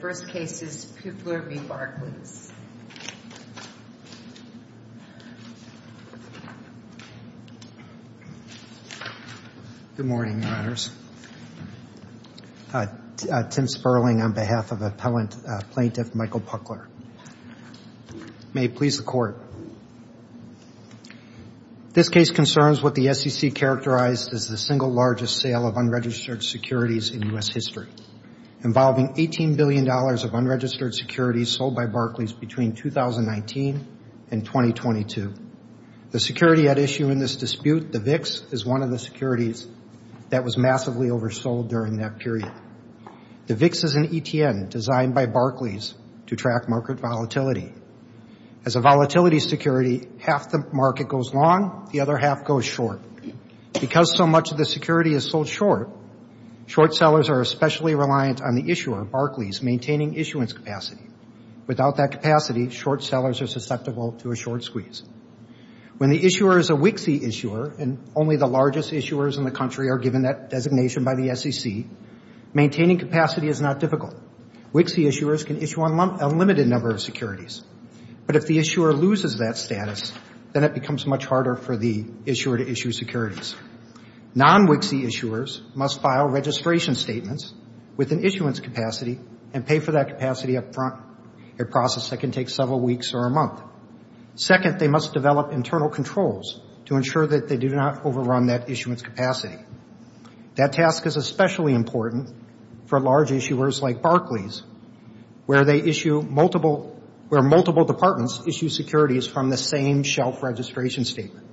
Good morning, Your Honors. Tim Sperling on behalf of Appellant Plaintiff Michael Puchtler. May it please the Court. This case concerns what the SEC characterized as the single largest sale of unregistered securities in U.S. history, involving $18 billion of unregistered securities sold by Barclays between 2019 and 2022. The security at issue in this dispute, the VIX, is one of the securities that was massively oversold during that period. The VIX is an ETN designed by Barclays to track market volatility. As a volatility security, half the market goes long, the other half goes short. Because so much of the security is sold short, short sellers are especially reliant on the issuer, Barclays, maintaining issuance capacity. Without that capacity, short sellers are susceptible to a short squeeze. When the issuer is a WIXI issuer, and only the largest issuers in the country are given that designation by the SEC, maintaining capacity is not difficult. WIXI issuers can issue an unlimited number of securities. But if the issuer loses that status, then it becomes much harder for the issuer to issue securities. Non-WIXI issuers must file registration statements with an issuance capacity and pay for that capacity up front, a process that can take several weeks or a month. Second, they must develop internal controls to ensure that they do not overrun that issuance capacity. That task is especially important for large issuers like Barclays, where they issue multiple, where multiple departments issue securities from the same shelf registration statement.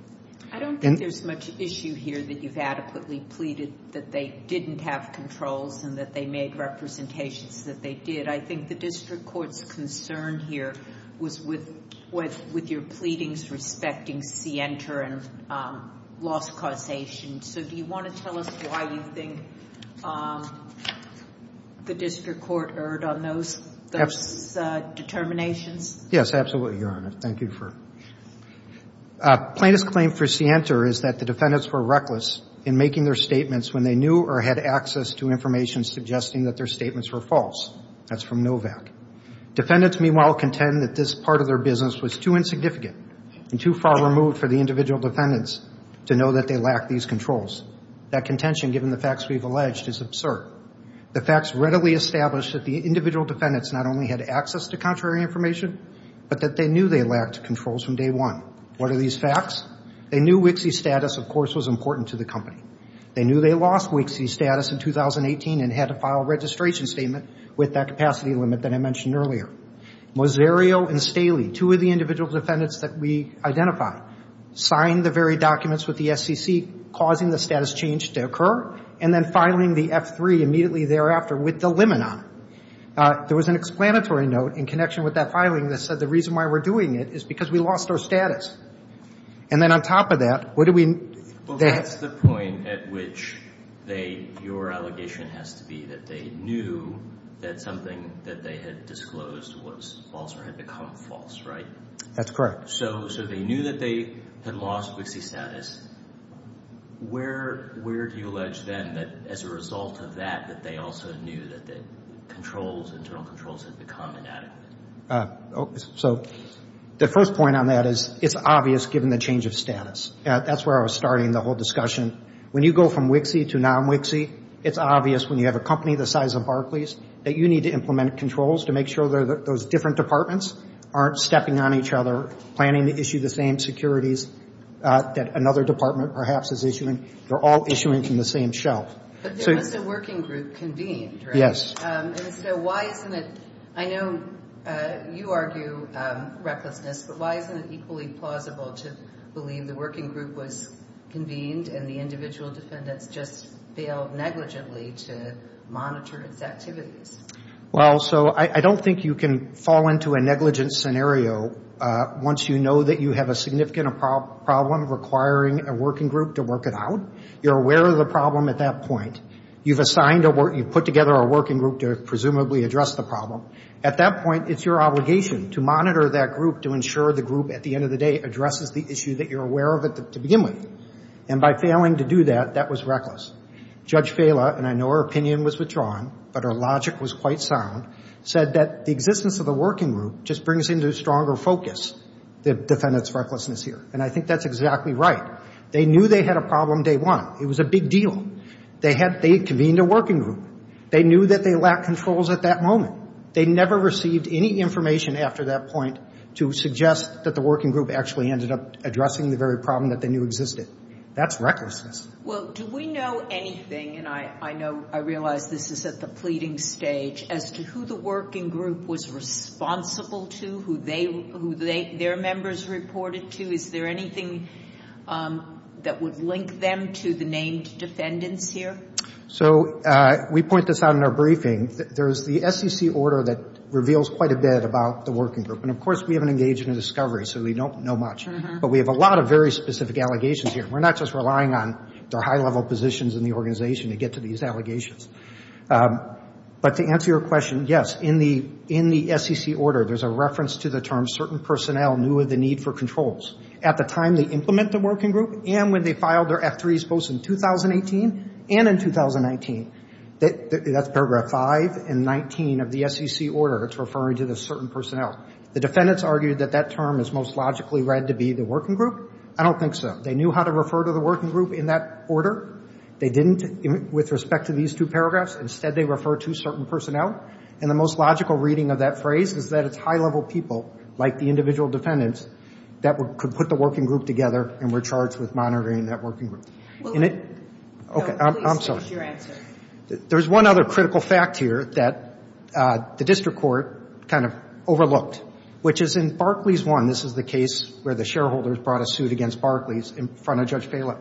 I don't think there's much issue here that you've adequately pleaded that they didn't have controls and that they made representations that they did. I think the district court's concern here was with, with your pleadings respecting Sienta and loss causation. So do you want to tell us why you think the district court erred on those, those determinations? Yes, absolutely, Your Honor. Thank you for... Plaintiff's claim for Sienta is that the defendants were reckless in making their statements when they knew or had access to information suggesting that their statements were false. That's from NOVAC. Defendants, meanwhile, contend that this part of their business was too insignificant and too far removed for the individual defendants to know that they lack these controls. That contention, given the facts we've alleged, is absurd. The facts readily establish that the individual defendants not only had access to contrary information, but that they knew they lacked controls from day one. What are these facts? They knew Wixie status, of course, was important to the company. They knew they lost Wixie status in 2018 and had to file a registration statement with that capacity limit that I mentioned earlier. Moserio and Staley, two of the individual defendants that we identified, signed the very documents with the SEC, causing the status change to occur, and then filing the F3 immediately thereafter with the limit on it. There was an explanatory note in connection with that filing that said the reason why we're doing it is because we lost our status. And then on top of that, what do we... Well, that's the point at which they, your allegation has to be that they knew that something that they had disclosed was false or had become false, right? That's correct. So they knew that they had lost Wixie status. Where do you allege then that as a result of that, that they also knew that the controls, internal controls had become inadequate? So the first point on that is it's obvious given the change of status. That's where I was starting the whole discussion. When you go from Wixie to non-Wixie, it's obvious when you have a company the size of Barclays, that you need to implement controls to make sure that those different departments aren't stepping on each other, planning to issue the same securities that another department perhaps is issuing. They're all issuing from the same shelf. But there was a working group convened, right? Yes. And so why isn't it, I know you argue recklessness, but why isn't it equally plausible to believe the working group was convened and the individual defendants just failed negligently to monitor its activities? Well, so I don't think you can fall into a negligence scenario once you know that you have a significant problem requiring a working group to work it out. You're aware of the problem at that point. You've assigned, you've put together a working group to presumably address the problem. At that point, it's your obligation to monitor that group to ensure the group at the end of the day addresses the issue that you're aware of it to begin with. And by failing to do that, that was reckless. Judge Fela, and I know her opinion was withdrawn, but her logic was quite sound, said that the existence of the working group just brings into stronger focus the defendant's recklessness here. And I think that's exactly right. They knew they had a problem day one. It was a big deal. They had, they convened a working group. They knew that they lacked controls at that moment. They never received any information after that point to suggest that the working group actually ended up addressing the very problem that they knew existed. That's recklessness. Well, do we know anything, and I know, I realize this is at the pleading stage, as to who the working group was responsible to, who they, their members reported to? Is there anything that would link them to the named defendants here? So we point this out in our briefing. There's the SEC order that reveals quite a bit about the working group. And, of course, we haven't engaged in a discovery, so we don't know much. But we have a lot of very specific allegations here. We're not just relying on the high-level positions in the organization to get to these allegations. But to answer your question, yes, in the SEC order, there's a reference to the term certain personnel knew of the need for controls. At the time they implement the working group and when they filed their F3s, both in 2018 and in 2019, that's paragraph 5 and 19 of the SEC order. It's referring to the certain personnel. The defendants argued that that term is most logically read to be the working group. I don't think so. They knew how to refer to the working group in that order. They didn't with respect to these two paragraphs. Instead, they refer to certain personnel. And the most logical reading of that phrase is that it's high-level people, like the individual defendants, that could put the working group together and were charged with monitoring that working group. Well, we don't believe such is your answer. There's one other critical fact here that the district court kind of overlooked, which is in Barclays 1, this is the case where the shareholders brought a suit against Barclays in front of Judge Phelan.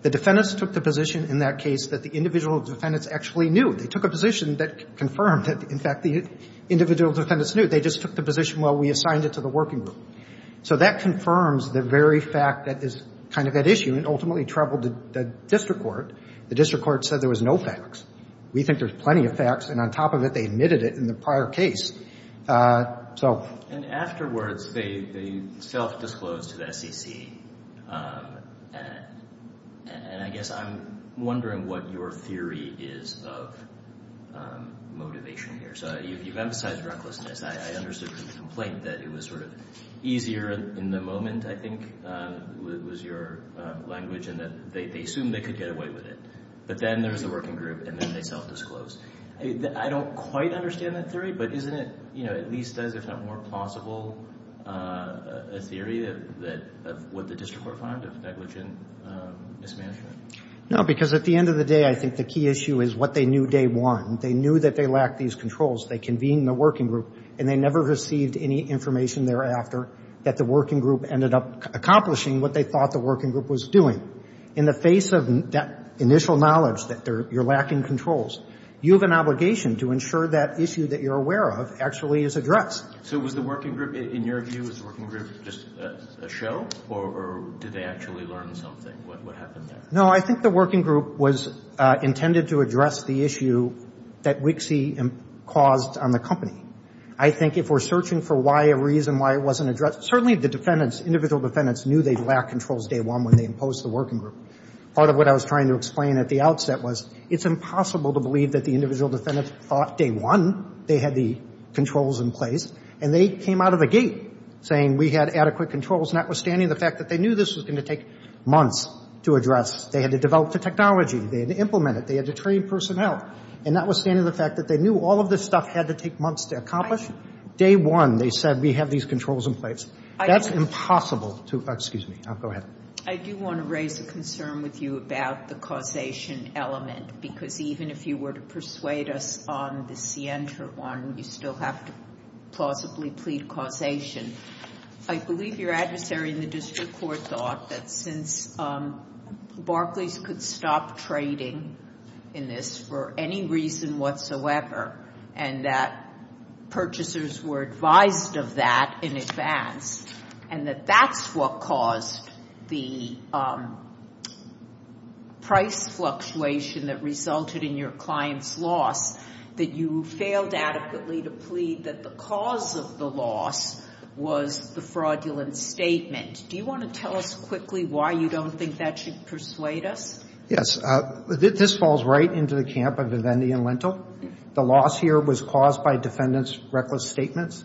The defendants took the position in that case that the individual defendants actually knew. They took a position that confirmed that, in fact, the individual defendants knew. They just took the position, well, we assigned it to the working group. So that confirms the very fact that is kind of at issue and ultimately troubled the district court. The district court said there was no facts. We think there's plenty of facts. And on top of it, they admitted it in the prior case. And afterwards, they self-disclosed to the SEC. And I guess I'm wondering what your theory is of motivation here. You've emphasized recklessness. I understood from the complaint that it was easier in the moment, I think, was your language in that they assumed they could get away with it. But then there's the working group, and then they self-disclosed. I don't quite understand that theory, but isn't it at least as, if not more plausible, a theory of what the district court found of negligent mismanagement? No, because at the end of the day, I think the key issue is what they knew day one. They knew that they lacked these controls. They convened the working group, and they never received any information thereafter that the working group ended up accomplishing what they thought the working group was doing. In the face of that initial knowledge that you're lacking controls, you have an obligation to ensure that issue that you're aware of actually is addressed. So was the working group, in your view, was the working group just a show? Or did they actually learn something? What happened there? No, I think the working group was intended to address the issue that Wixie caused on the company. I think if we're searching for why a reason why it wasn't addressed, certainly the defendants, individual defendants, knew they lacked controls day one when they imposed the working group. Part of what I was trying to explain at the outset was it's impossible to believe that the individual defendants thought day one they had the controls in place, and they came out of the gate saying we had adequate controls, notwithstanding the fact that they knew this was going to take months to address. They had to develop the technology. They had to implement it. They had to train personnel. And notwithstanding the fact that they knew all of this stuff had to take months to accomplish, day one they said we have these controls in place. That's impossible to, excuse me, go ahead. I do want to raise a concern with you about the causation element, because even if you were to persuade us on the Sientra one, you still have to plausibly plead causation. I believe your adversary in the district court thought that since Barclays could stop trading in this for any reason whatsoever, and that purchasers were advised of that in advance, and that that's what caused the price fluctuation that resulted in your client's loss, that you failed adequately to plead that the cause of the loss was the fraudulent statement. Do you want to tell us quickly why you don't think that should persuade us? Yes. This falls right into the camp of Vivendi and Lentil. The loss here was caused by defendants' reckless statements.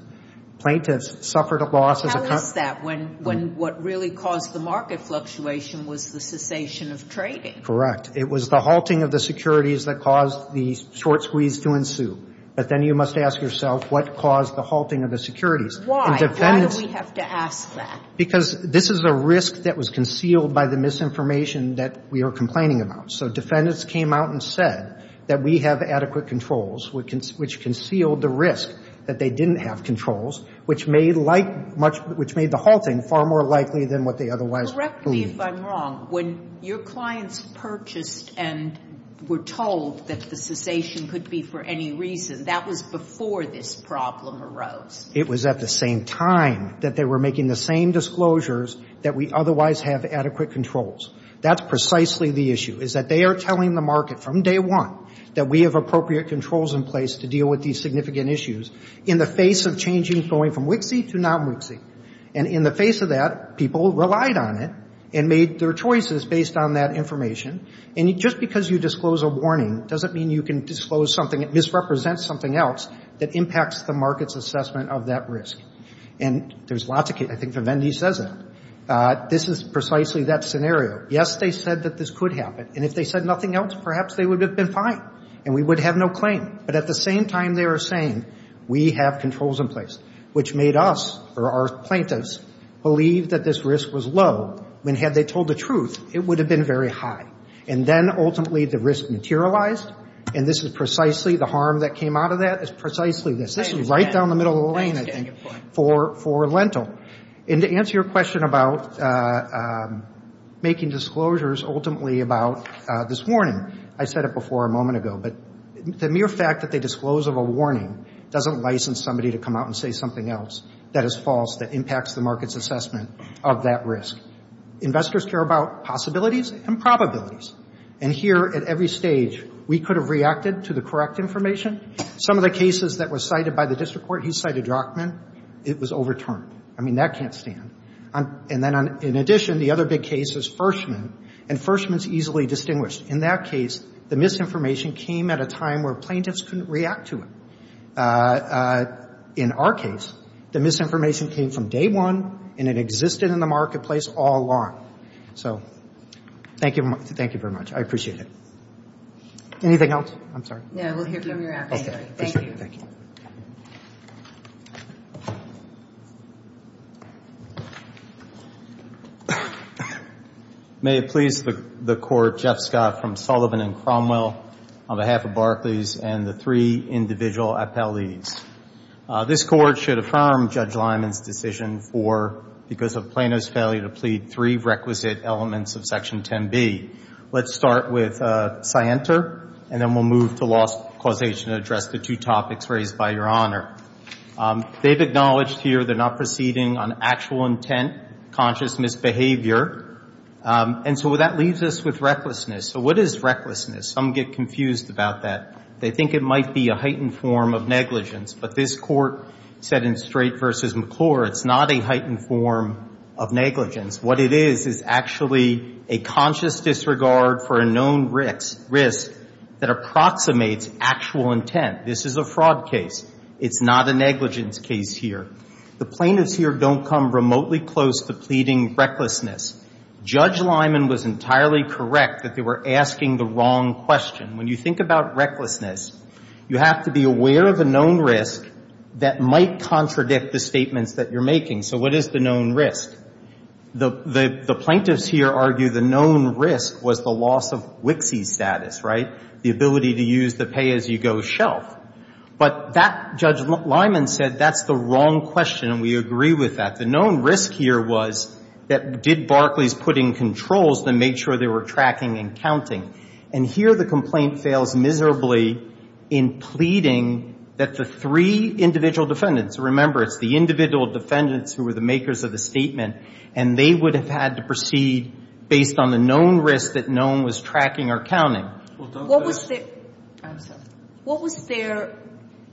Plaintiffs suffered a loss as a consequence. Tell us that, when what really caused the market fluctuation was the cessation of trading. Correct. It was the halting of the securities that caused the short squeeze to ensue. But then you must ask yourself what caused the halting of the securities. Why? Why do we have to ask that? Because this is a risk that was concealed by the misinformation that we are complaining about. So defendants came out and said that we have adequate controls, which concealed the risk that they didn't have controls, which made the halting far more likely than what they otherwise believed. Correct me if I'm wrong. When your clients purchased and were told that the cessation could be for any reason, that was before this problem arose. It was at the same time that they were making the same disclosures that we otherwise have adequate controls. That's precisely the issue, is that they are telling the market from day one that we have appropriate controls in place to deal with these significant issues in the face of changes going from WIXI to non-WIXI. And in the face of that, people relied on it and made their choices based on that information. And just because you disclose a warning doesn't mean you can disclose something that misrepresents something else that impacts the market's assessment of that risk. And there's lots of cases. I think Vivendi says that. This is precisely that scenario. Yes, they said that this could happen. And if they said nothing else, perhaps they would have been fine and we would have no claim. But at the same time, they are saying we have controls in place, which made us or our plaintiffs believe that this risk was low when had they told the truth, it would have been very high. And then ultimately the risk materialized. And this is precisely the harm that came out of that is precisely this. Right down the middle of the lane, I think, for Lentil. And to answer your question about making disclosures ultimately about this warning, I said it before a moment ago, but the mere fact that they disclose of a warning doesn't license somebody to come out and say something else that is false, that impacts the market's assessment of that risk. Investors care about possibilities and probabilities. And here at every stage, we could have reacted to the misconduct information. Some of the cases that were cited by the district court, he cited Rockman. It was overturned. I mean, that can't stand. And then in addition, the other big case is Fershman. And Fershman is easily distinguished. In that case, the misinformation came at a time where plaintiffs couldn't react to it. In our case, the misinformation came from day one and it existed in the marketplace all along. So thank you very much. I appreciate it. Anything else? I'm sorry. No, we'll hear from your adversary. Okay. Thank you. May it please the Court, Jeff Scott from Sullivan and Cromwell, on behalf of Barclays and the three individual appellees. This Court should affirm Judge Lyman's decision for, because of Plano's failure to meet three requisite elements of Section 10B. Let's start with Sienta, and then we'll move to law's causation to address the two topics raised by Your Honor. They've acknowledged here they're not proceeding on actual intent, conscious misbehavior. And so that leaves us with recklessness. So what is recklessness? Some get confused about that. They think it might be a heightened form of negligence. But this Court said in Strait v. McClure, it's not a heightened form of negligence. What it is, is actually a conscious disregard for a known risk that approximates actual intent. This is a fraud case. It's not a negligence case here. The plaintiffs here don't come remotely close to pleading recklessness. Judge Lyman was entirely correct that they were asking the wrong question. When you think about recklessness, you have to be aware of a known risk that might contradict the statements that you're making. So what is the known risk? The plaintiffs here argue the known risk was the loss of Wixie status, right? The ability to use the pay-as-you-go shelf. But that, Judge Lyman said, that's the wrong question, and we agree with that. The known risk here was that did Barclays put in controls to make sure they were tracking and counting? And here the complaint fails miserably in pleading that the three individual defendants, remember, it's the individual defendants who were the makers of the statement, and they would have had to proceed based on the known risk that known was tracking or counting. What was their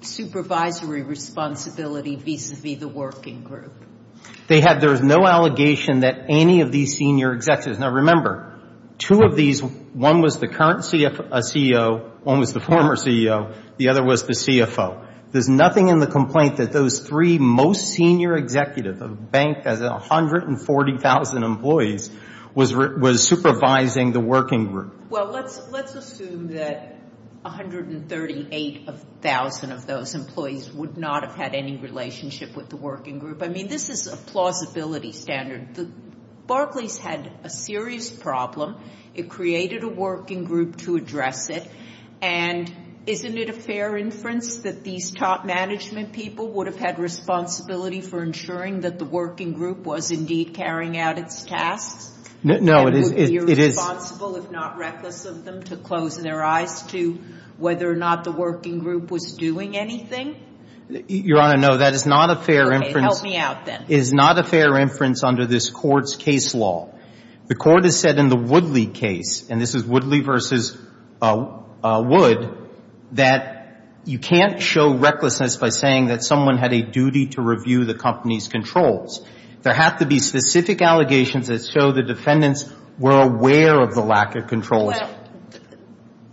supervisory responsibility vis-a-vis the working group? They had, there was no allegation that any of these senior executives, now remember, two of these, one was the current CEO, one was the former CEO, the other was the CFO. There's nothing in the complaint that those three most senior executives, banked as 140,000 employees, was supervising the working group. Well, let's assume that 138,000 of those employees would not have had any relationship with the working group. I mean, this is a plausibility standard. Barclays had a serious problem. It created a working group to address it. And isn't it a fair inference that these top management people would have had responsibility for ensuring that the working group was indeed carrying out its tasks? No, it is. It would be irresponsible, if not reckless of them, to close their eyes to whether or not the working group was doing anything? Your Honor, no, that is not a fair inference. Okay, help me out then. It is not a fair inference under this Court's case law. The Court has said in the Woodley case, and this is Woodley v. Wood, that you can't show recklessness by saying that someone had a duty to review the company's controls. There have to be specific allegations that show the defendants were aware of the lack of control. Well,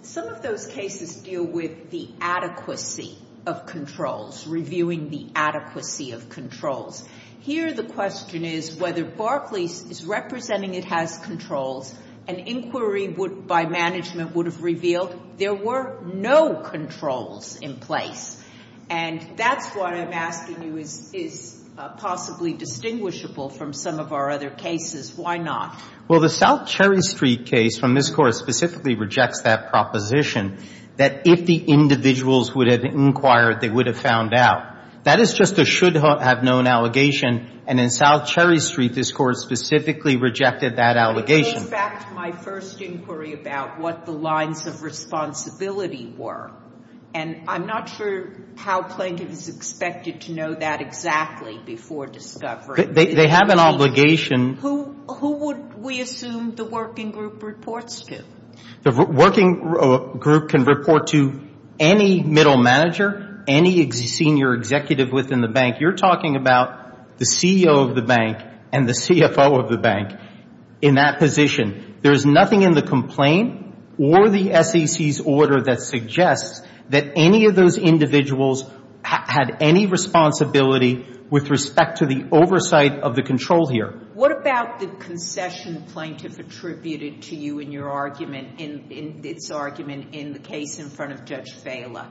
some of those cases deal with the adequacy of controls, reviewing the adequacy of controls. Here, the question is whether Barclays is representing it has controls, an inquiry by management would have revealed there were no controls in place. And that's why I'm asking you, is possibly distinguishable from some of our other cases. Why not? Well, the South Cherry Street case from this Court specifically rejects that proposition, that if the individuals would have inquired, they would have found out. That is just a should have known allegation. And in South Cherry Street, this Court specifically rejected that allegation. It goes back to my first inquiry about what the lines of responsibility were. And I'm not sure how plaintiff is expected to know that exactly before discovery. They have an obligation. Who would we assume the working group reports to? The working group can report to any middle manager, any senior executive within the bank. You're talking about the CEO of the bank and the CFO of the bank in that position. There is nothing in the complaint or the SEC's order that suggests that any of those individuals had any responsibility with respect to the oversight of the control here. What about the concession plaintiff attributed to you in your argument, in its argument in the case in front of Judge Fela?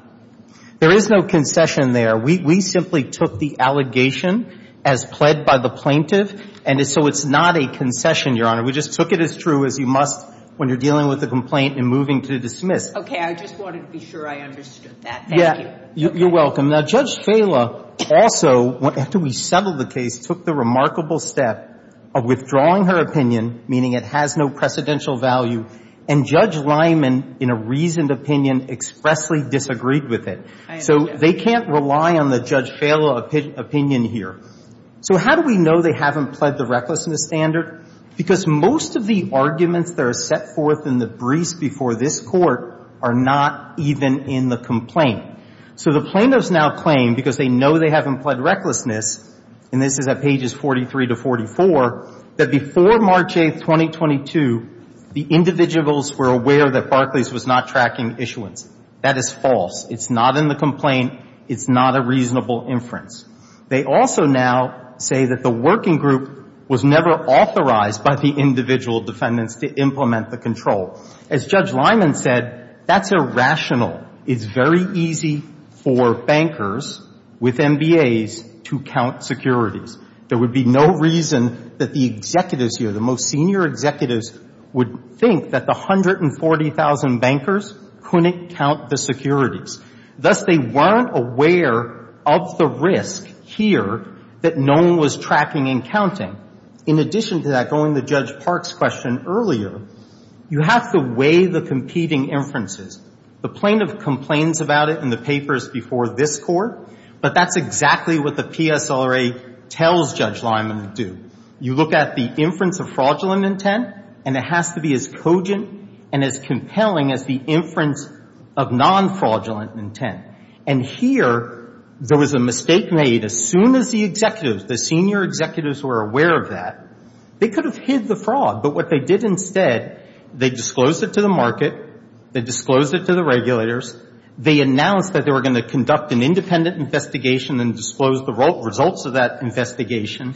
There is no concession there. We simply took the allegation as pled by the plaintiff. And so it's not a concession, Your Honor. We just took it as true as you must when you're dealing with a complaint and moving to dismiss. Okay. I just wanted to be sure I understood that. Thank you. You're welcome. Now, Judge Fela also, after we settled the case, took the remarkable step of withdrawing her opinion, meaning it has no precedential value, and Judge Lyman, in a reasoned opinion, expressly disagreed with it. I understand. So they can't rely on the Judge Fela opinion here. So how do we know they haven't pled the recklessness standard? Because most of the arguments that are set forth in the briefs before this Court are not even in the complaint. So the plaintiffs now claim, because they know they haven't pled recklessness, and this is at pages 43 to 44, that before March 8, 2022, the individuals were aware that Barclays was not tracking issuance. That is false. It's not in the complaint. It's not a reasonable inference. They also now say that the working group was never authorized by the individual defendants to implement the control. As Judge Lyman said, that's irrational. It's very easy for bankers with MBAs to count securities. There would be no reason that the executives here, the most senior executives, would think that the 140,000 bankers couldn't count the securities. Thus, they weren't aware of the risk here that no one was tracking and counting. In addition to that, going to Judge Park's question earlier, you have to weigh the competing inferences. The plaintiff complains about it in the papers before this Court, but that's exactly what the PSRA tells Judge Lyman to do. You look at the inference of fraudulent intent, and it has to be as cogent and as compelling as the inference of non-fraudulent intent. And here, there was a mistake made as soon as the executives, the senior executives, were aware of that. They could have hid the fraud, but what they did instead, they disclosed it to the market, they disclosed it to the regulators, they announced that they were going to conduct an independent investigation and disclose the results of that investigation,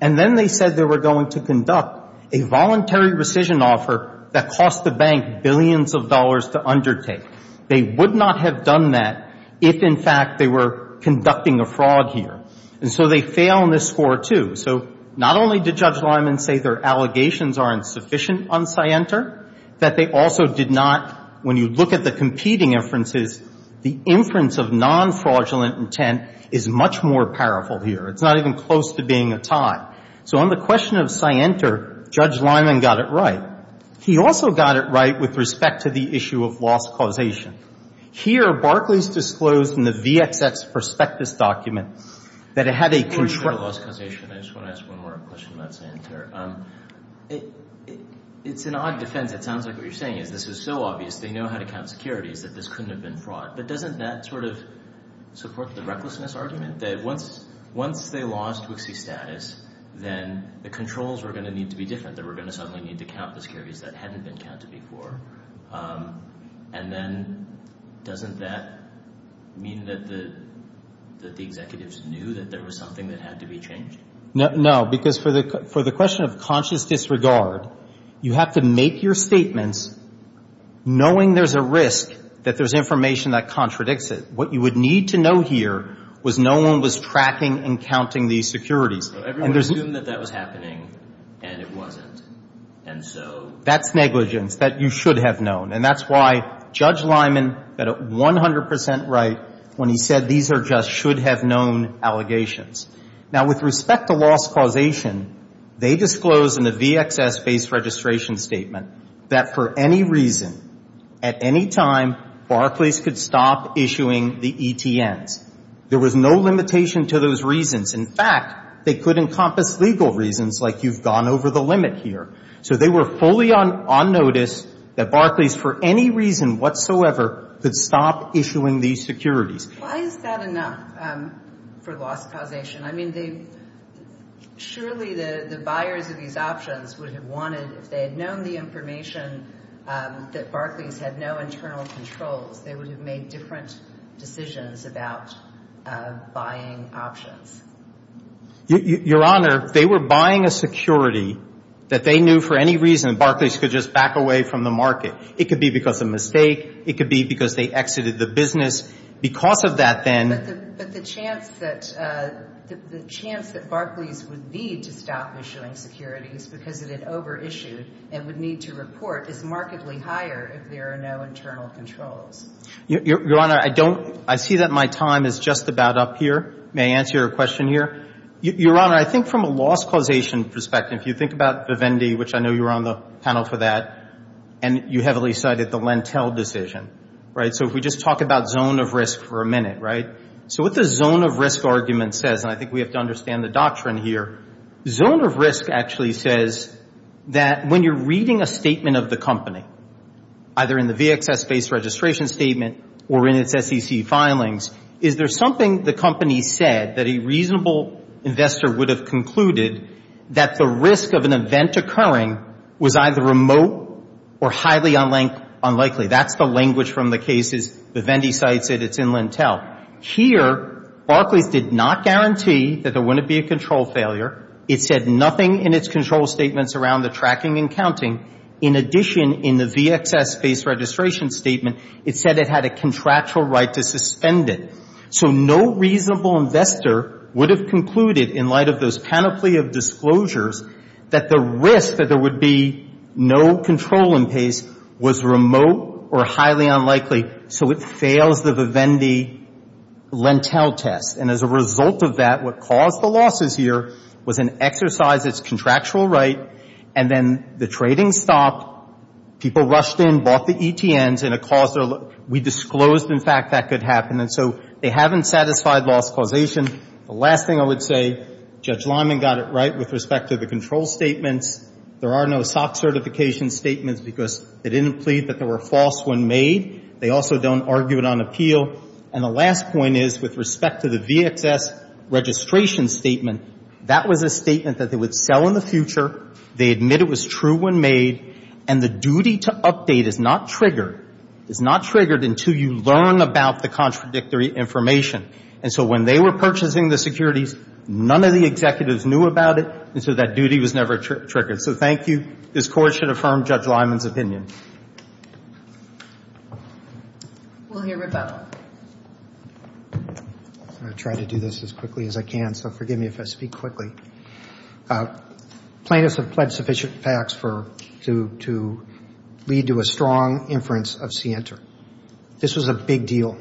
and then they said they were going to conduct a voluntary rescission offer that cost the bank billions of dollars to undertake. They would not have done that if, in fact, they were conducting a fraud here. And so they fail in this score, too. So not only did Judge Lyman say their allegations aren't sufficient on Sienter, that they also did not, when you look at the competing inferences, the inference of non-fraudulent intent is much more powerful here. It's not even close to being a tie. So on the question of Sienter, Judge Lyman got it right. He also got it right with respect to the issue of loss causation. Here, Barclay's disclosed in the VXX prospectus document that it had a control of loss causation. I just want to ask one more question about Sienter. It's an odd defense. It sounds like what you're saying is this is so obvious. They know how to count securities that this couldn't have been fraud. But doesn't that sort of support the recklessness argument that once they lost Wixie status, then the controls were going to need to be different, that we're going to suddenly need to count the securities that hadn't been counted before? And then doesn't that mean that the executives knew that there was something that had to be changed? No, because for the question of conscious disregard, you have to make your statements knowing there's a risk that there's information that contradicts it. What you would need to know here was no one was tracking and counting these securities. So everyone assumed that that was happening, and it wasn't. And so that's negligence that you should have known. And that's why Judge Lyman got it 100 percent right when he said these are just should-have-known allegations. Now, with respect to loss causation, they disclosed in the VXS-based registration statement that for any reason, at any time, Barclays could stop issuing the ETNs. There was no limitation to those reasons. In fact, they could encompass legal reasons, like you've gone over the limit here. So they were fully on notice that Barclays, for any reason whatsoever, could stop issuing these securities. Why is that enough for loss causation? I mean, they — surely the buyers of these options would have wanted, if they had known the information, that Barclays had no internal controls. They would have made different decisions about buying options. Your Honor, they were buying a security that they knew for any reason Barclays could just back away from the market. It could be because of mistake. It could be because they exited the business. Because of that, then — But the chance that Barclays would need to stop issuing securities because it had over-issued and would need to report is markedly higher if there are no internal controls. Your Honor, I don't — I see that my time is just about up here. May I answer your question here? Your Honor, I think from a loss causation perspective, if you think about Vivendi, which I know you were on the panel for that, and you heavily cited the Lentil decision, right? So if we just talk about zone of risk for a minute, right? So what the zone of risk argument says, and I think we have to understand the doctrine here, zone of risk actually says that when you're reading a statement of the company, either in the VXS-based registration statement or in its SEC filings, is there something the company said that a reasonable investor would have concluded that the risk of an event occurring was either remote or highly unlikely? That's the language from the cases Vivendi cites at its in Lentil. Here, Barclays did not guarantee that there wouldn't be a control failure. It said nothing in its control statements around the tracking and counting. In addition, in the VXS-based registration statement, it said it had a contractual right to suspend it. So no reasonable investor would have concluded, in light of those panoply of disclosures, that the risk that there would be no control in place was remote or highly unlikely. So it fails the Vivendi Lentil test. And as a result of that, what caused the losses here was an exercise of its contractual right, and then the trading stopped. People rushed in, bought the ETNs, and it caused their loss. We disclosed, in fact, that could happen. And so they haven't satisfied loss causation. The last thing I would say, Judge Lyman got it right with respect to the control statements. There are no SOC certification statements because they didn't plead that there were false when made. They also don't argue it on appeal. And the last point is, with respect to the VXS registration statement, that was a statement that they would sell in the future, they admit it was true when made, and the duty to update is not triggered, is not triggered until you learn about the contradictory information. And so when they were purchasing the securities, none of the executives knew about it, and so that duty was never triggered. So thank you. This Court should affirm Judge Lyman's opinion. We'll hear rebuttal. I'm going to try to do this as quickly as I can, so forgive me if I speak quickly. Plaintiffs have pledged sufficient facts to lead to a strong inference of Center. This was a big deal.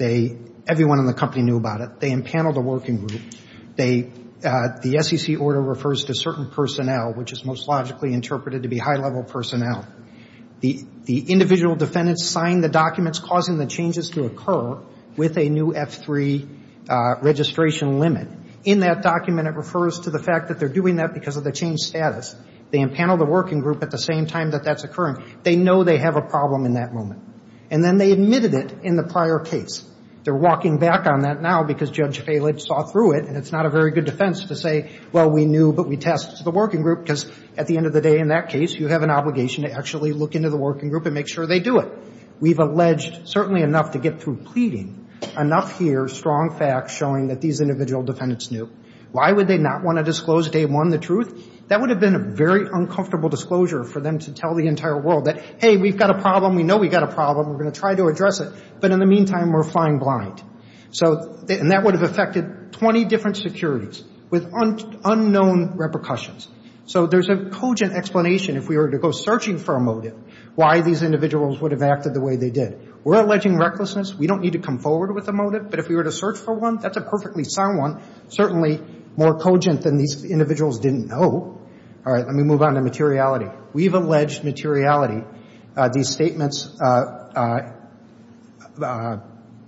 Everyone in the company knew about it. They empaneled a working group. The SEC order refers to certain personnel, which is most logically interpreted to be high-level personnel. The individual defendants signed the documents causing the changes to occur with a new F3 registration limit. In that document, it refers to the fact that they're doing that because of the changed status. They empaneled a working group at the same time that that's occurring. They know they have a problem in that moment. And then they admitted it in the prior case. They're walking back on that now because Judge Failage saw through it, and it's not a very good defense to say, well, we knew, but we tasked the working group, because at the end of the day, in that case, you have an obligation to actually look into the working group and make sure they do it. We've alleged certainly enough to get through pleading, enough here strong facts showing that these individual defendants knew. Why would they not want to disclose day one the truth? That would have been a very uncomfortable disclosure for them to tell the entire world that, hey, we've got a problem. We know we've got a problem. We're going to try to address it. But in the meantime, we're flying blind. So and that would have affected 20 different securities with unknown repercussions. So there's a cogent explanation if we were to go searching for a motive why these individuals would have acted the way they did. We're alleging recklessness. We don't need to come forward with a motive. But if we were to search for one, that's a perfectly sound one, certainly more cogent than these individuals didn't know. All right. Let me move on to materiality. We've alleged materiality. These individuals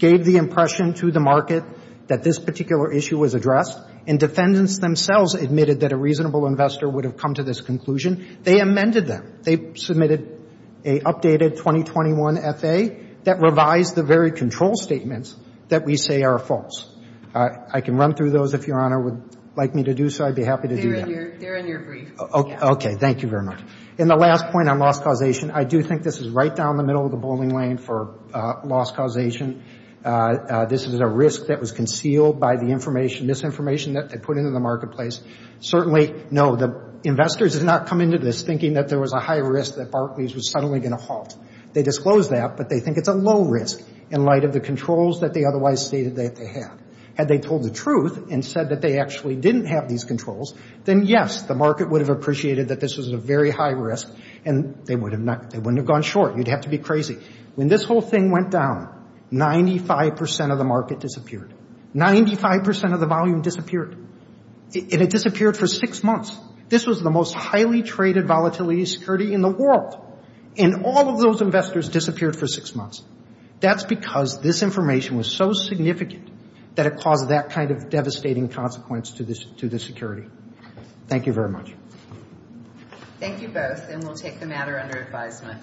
made the impression to the market that this particular issue was addressed. And defendants themselves admitted that a reasonable investor would have come to this conclusion. They amended them. They submitted a updated 2021 F.A. that revised the very control statements that we say are false. I can run through those if Your Honor would like me to do so. I'd be happy to do that. They're in your brief. Okay. Thank you very much. And the last point on loss causation, I do think this is right down the middle of the bowling lane for loss causation. This is a risk that was concealed by the information, misinformation that they put into the marketplace. Certainly, no, the investors did not come into this thinking that there was a high risk that Barclays was suddenly going to halt. They disclosed that, but they think it's a low risk in light of the controls that they otherwise stated that they had. Had they told the truth and said that they actually didn't have these controls, then yes, the market would have appreciated that this was a very high risk and they wouldn't have gone short. You'd have to be crazy. When this whole thing went down, 95% of the market disappeared. 95% of the volume disappeared. And it disappeared for six months. This was the most highly traded volatility security in the world. And all of those investors disappeared for six months. That's because this information was so significant that it caused that kind of devastating consequence to the security. Thank you very much. Thank you both, and we'll take the matter under advisement.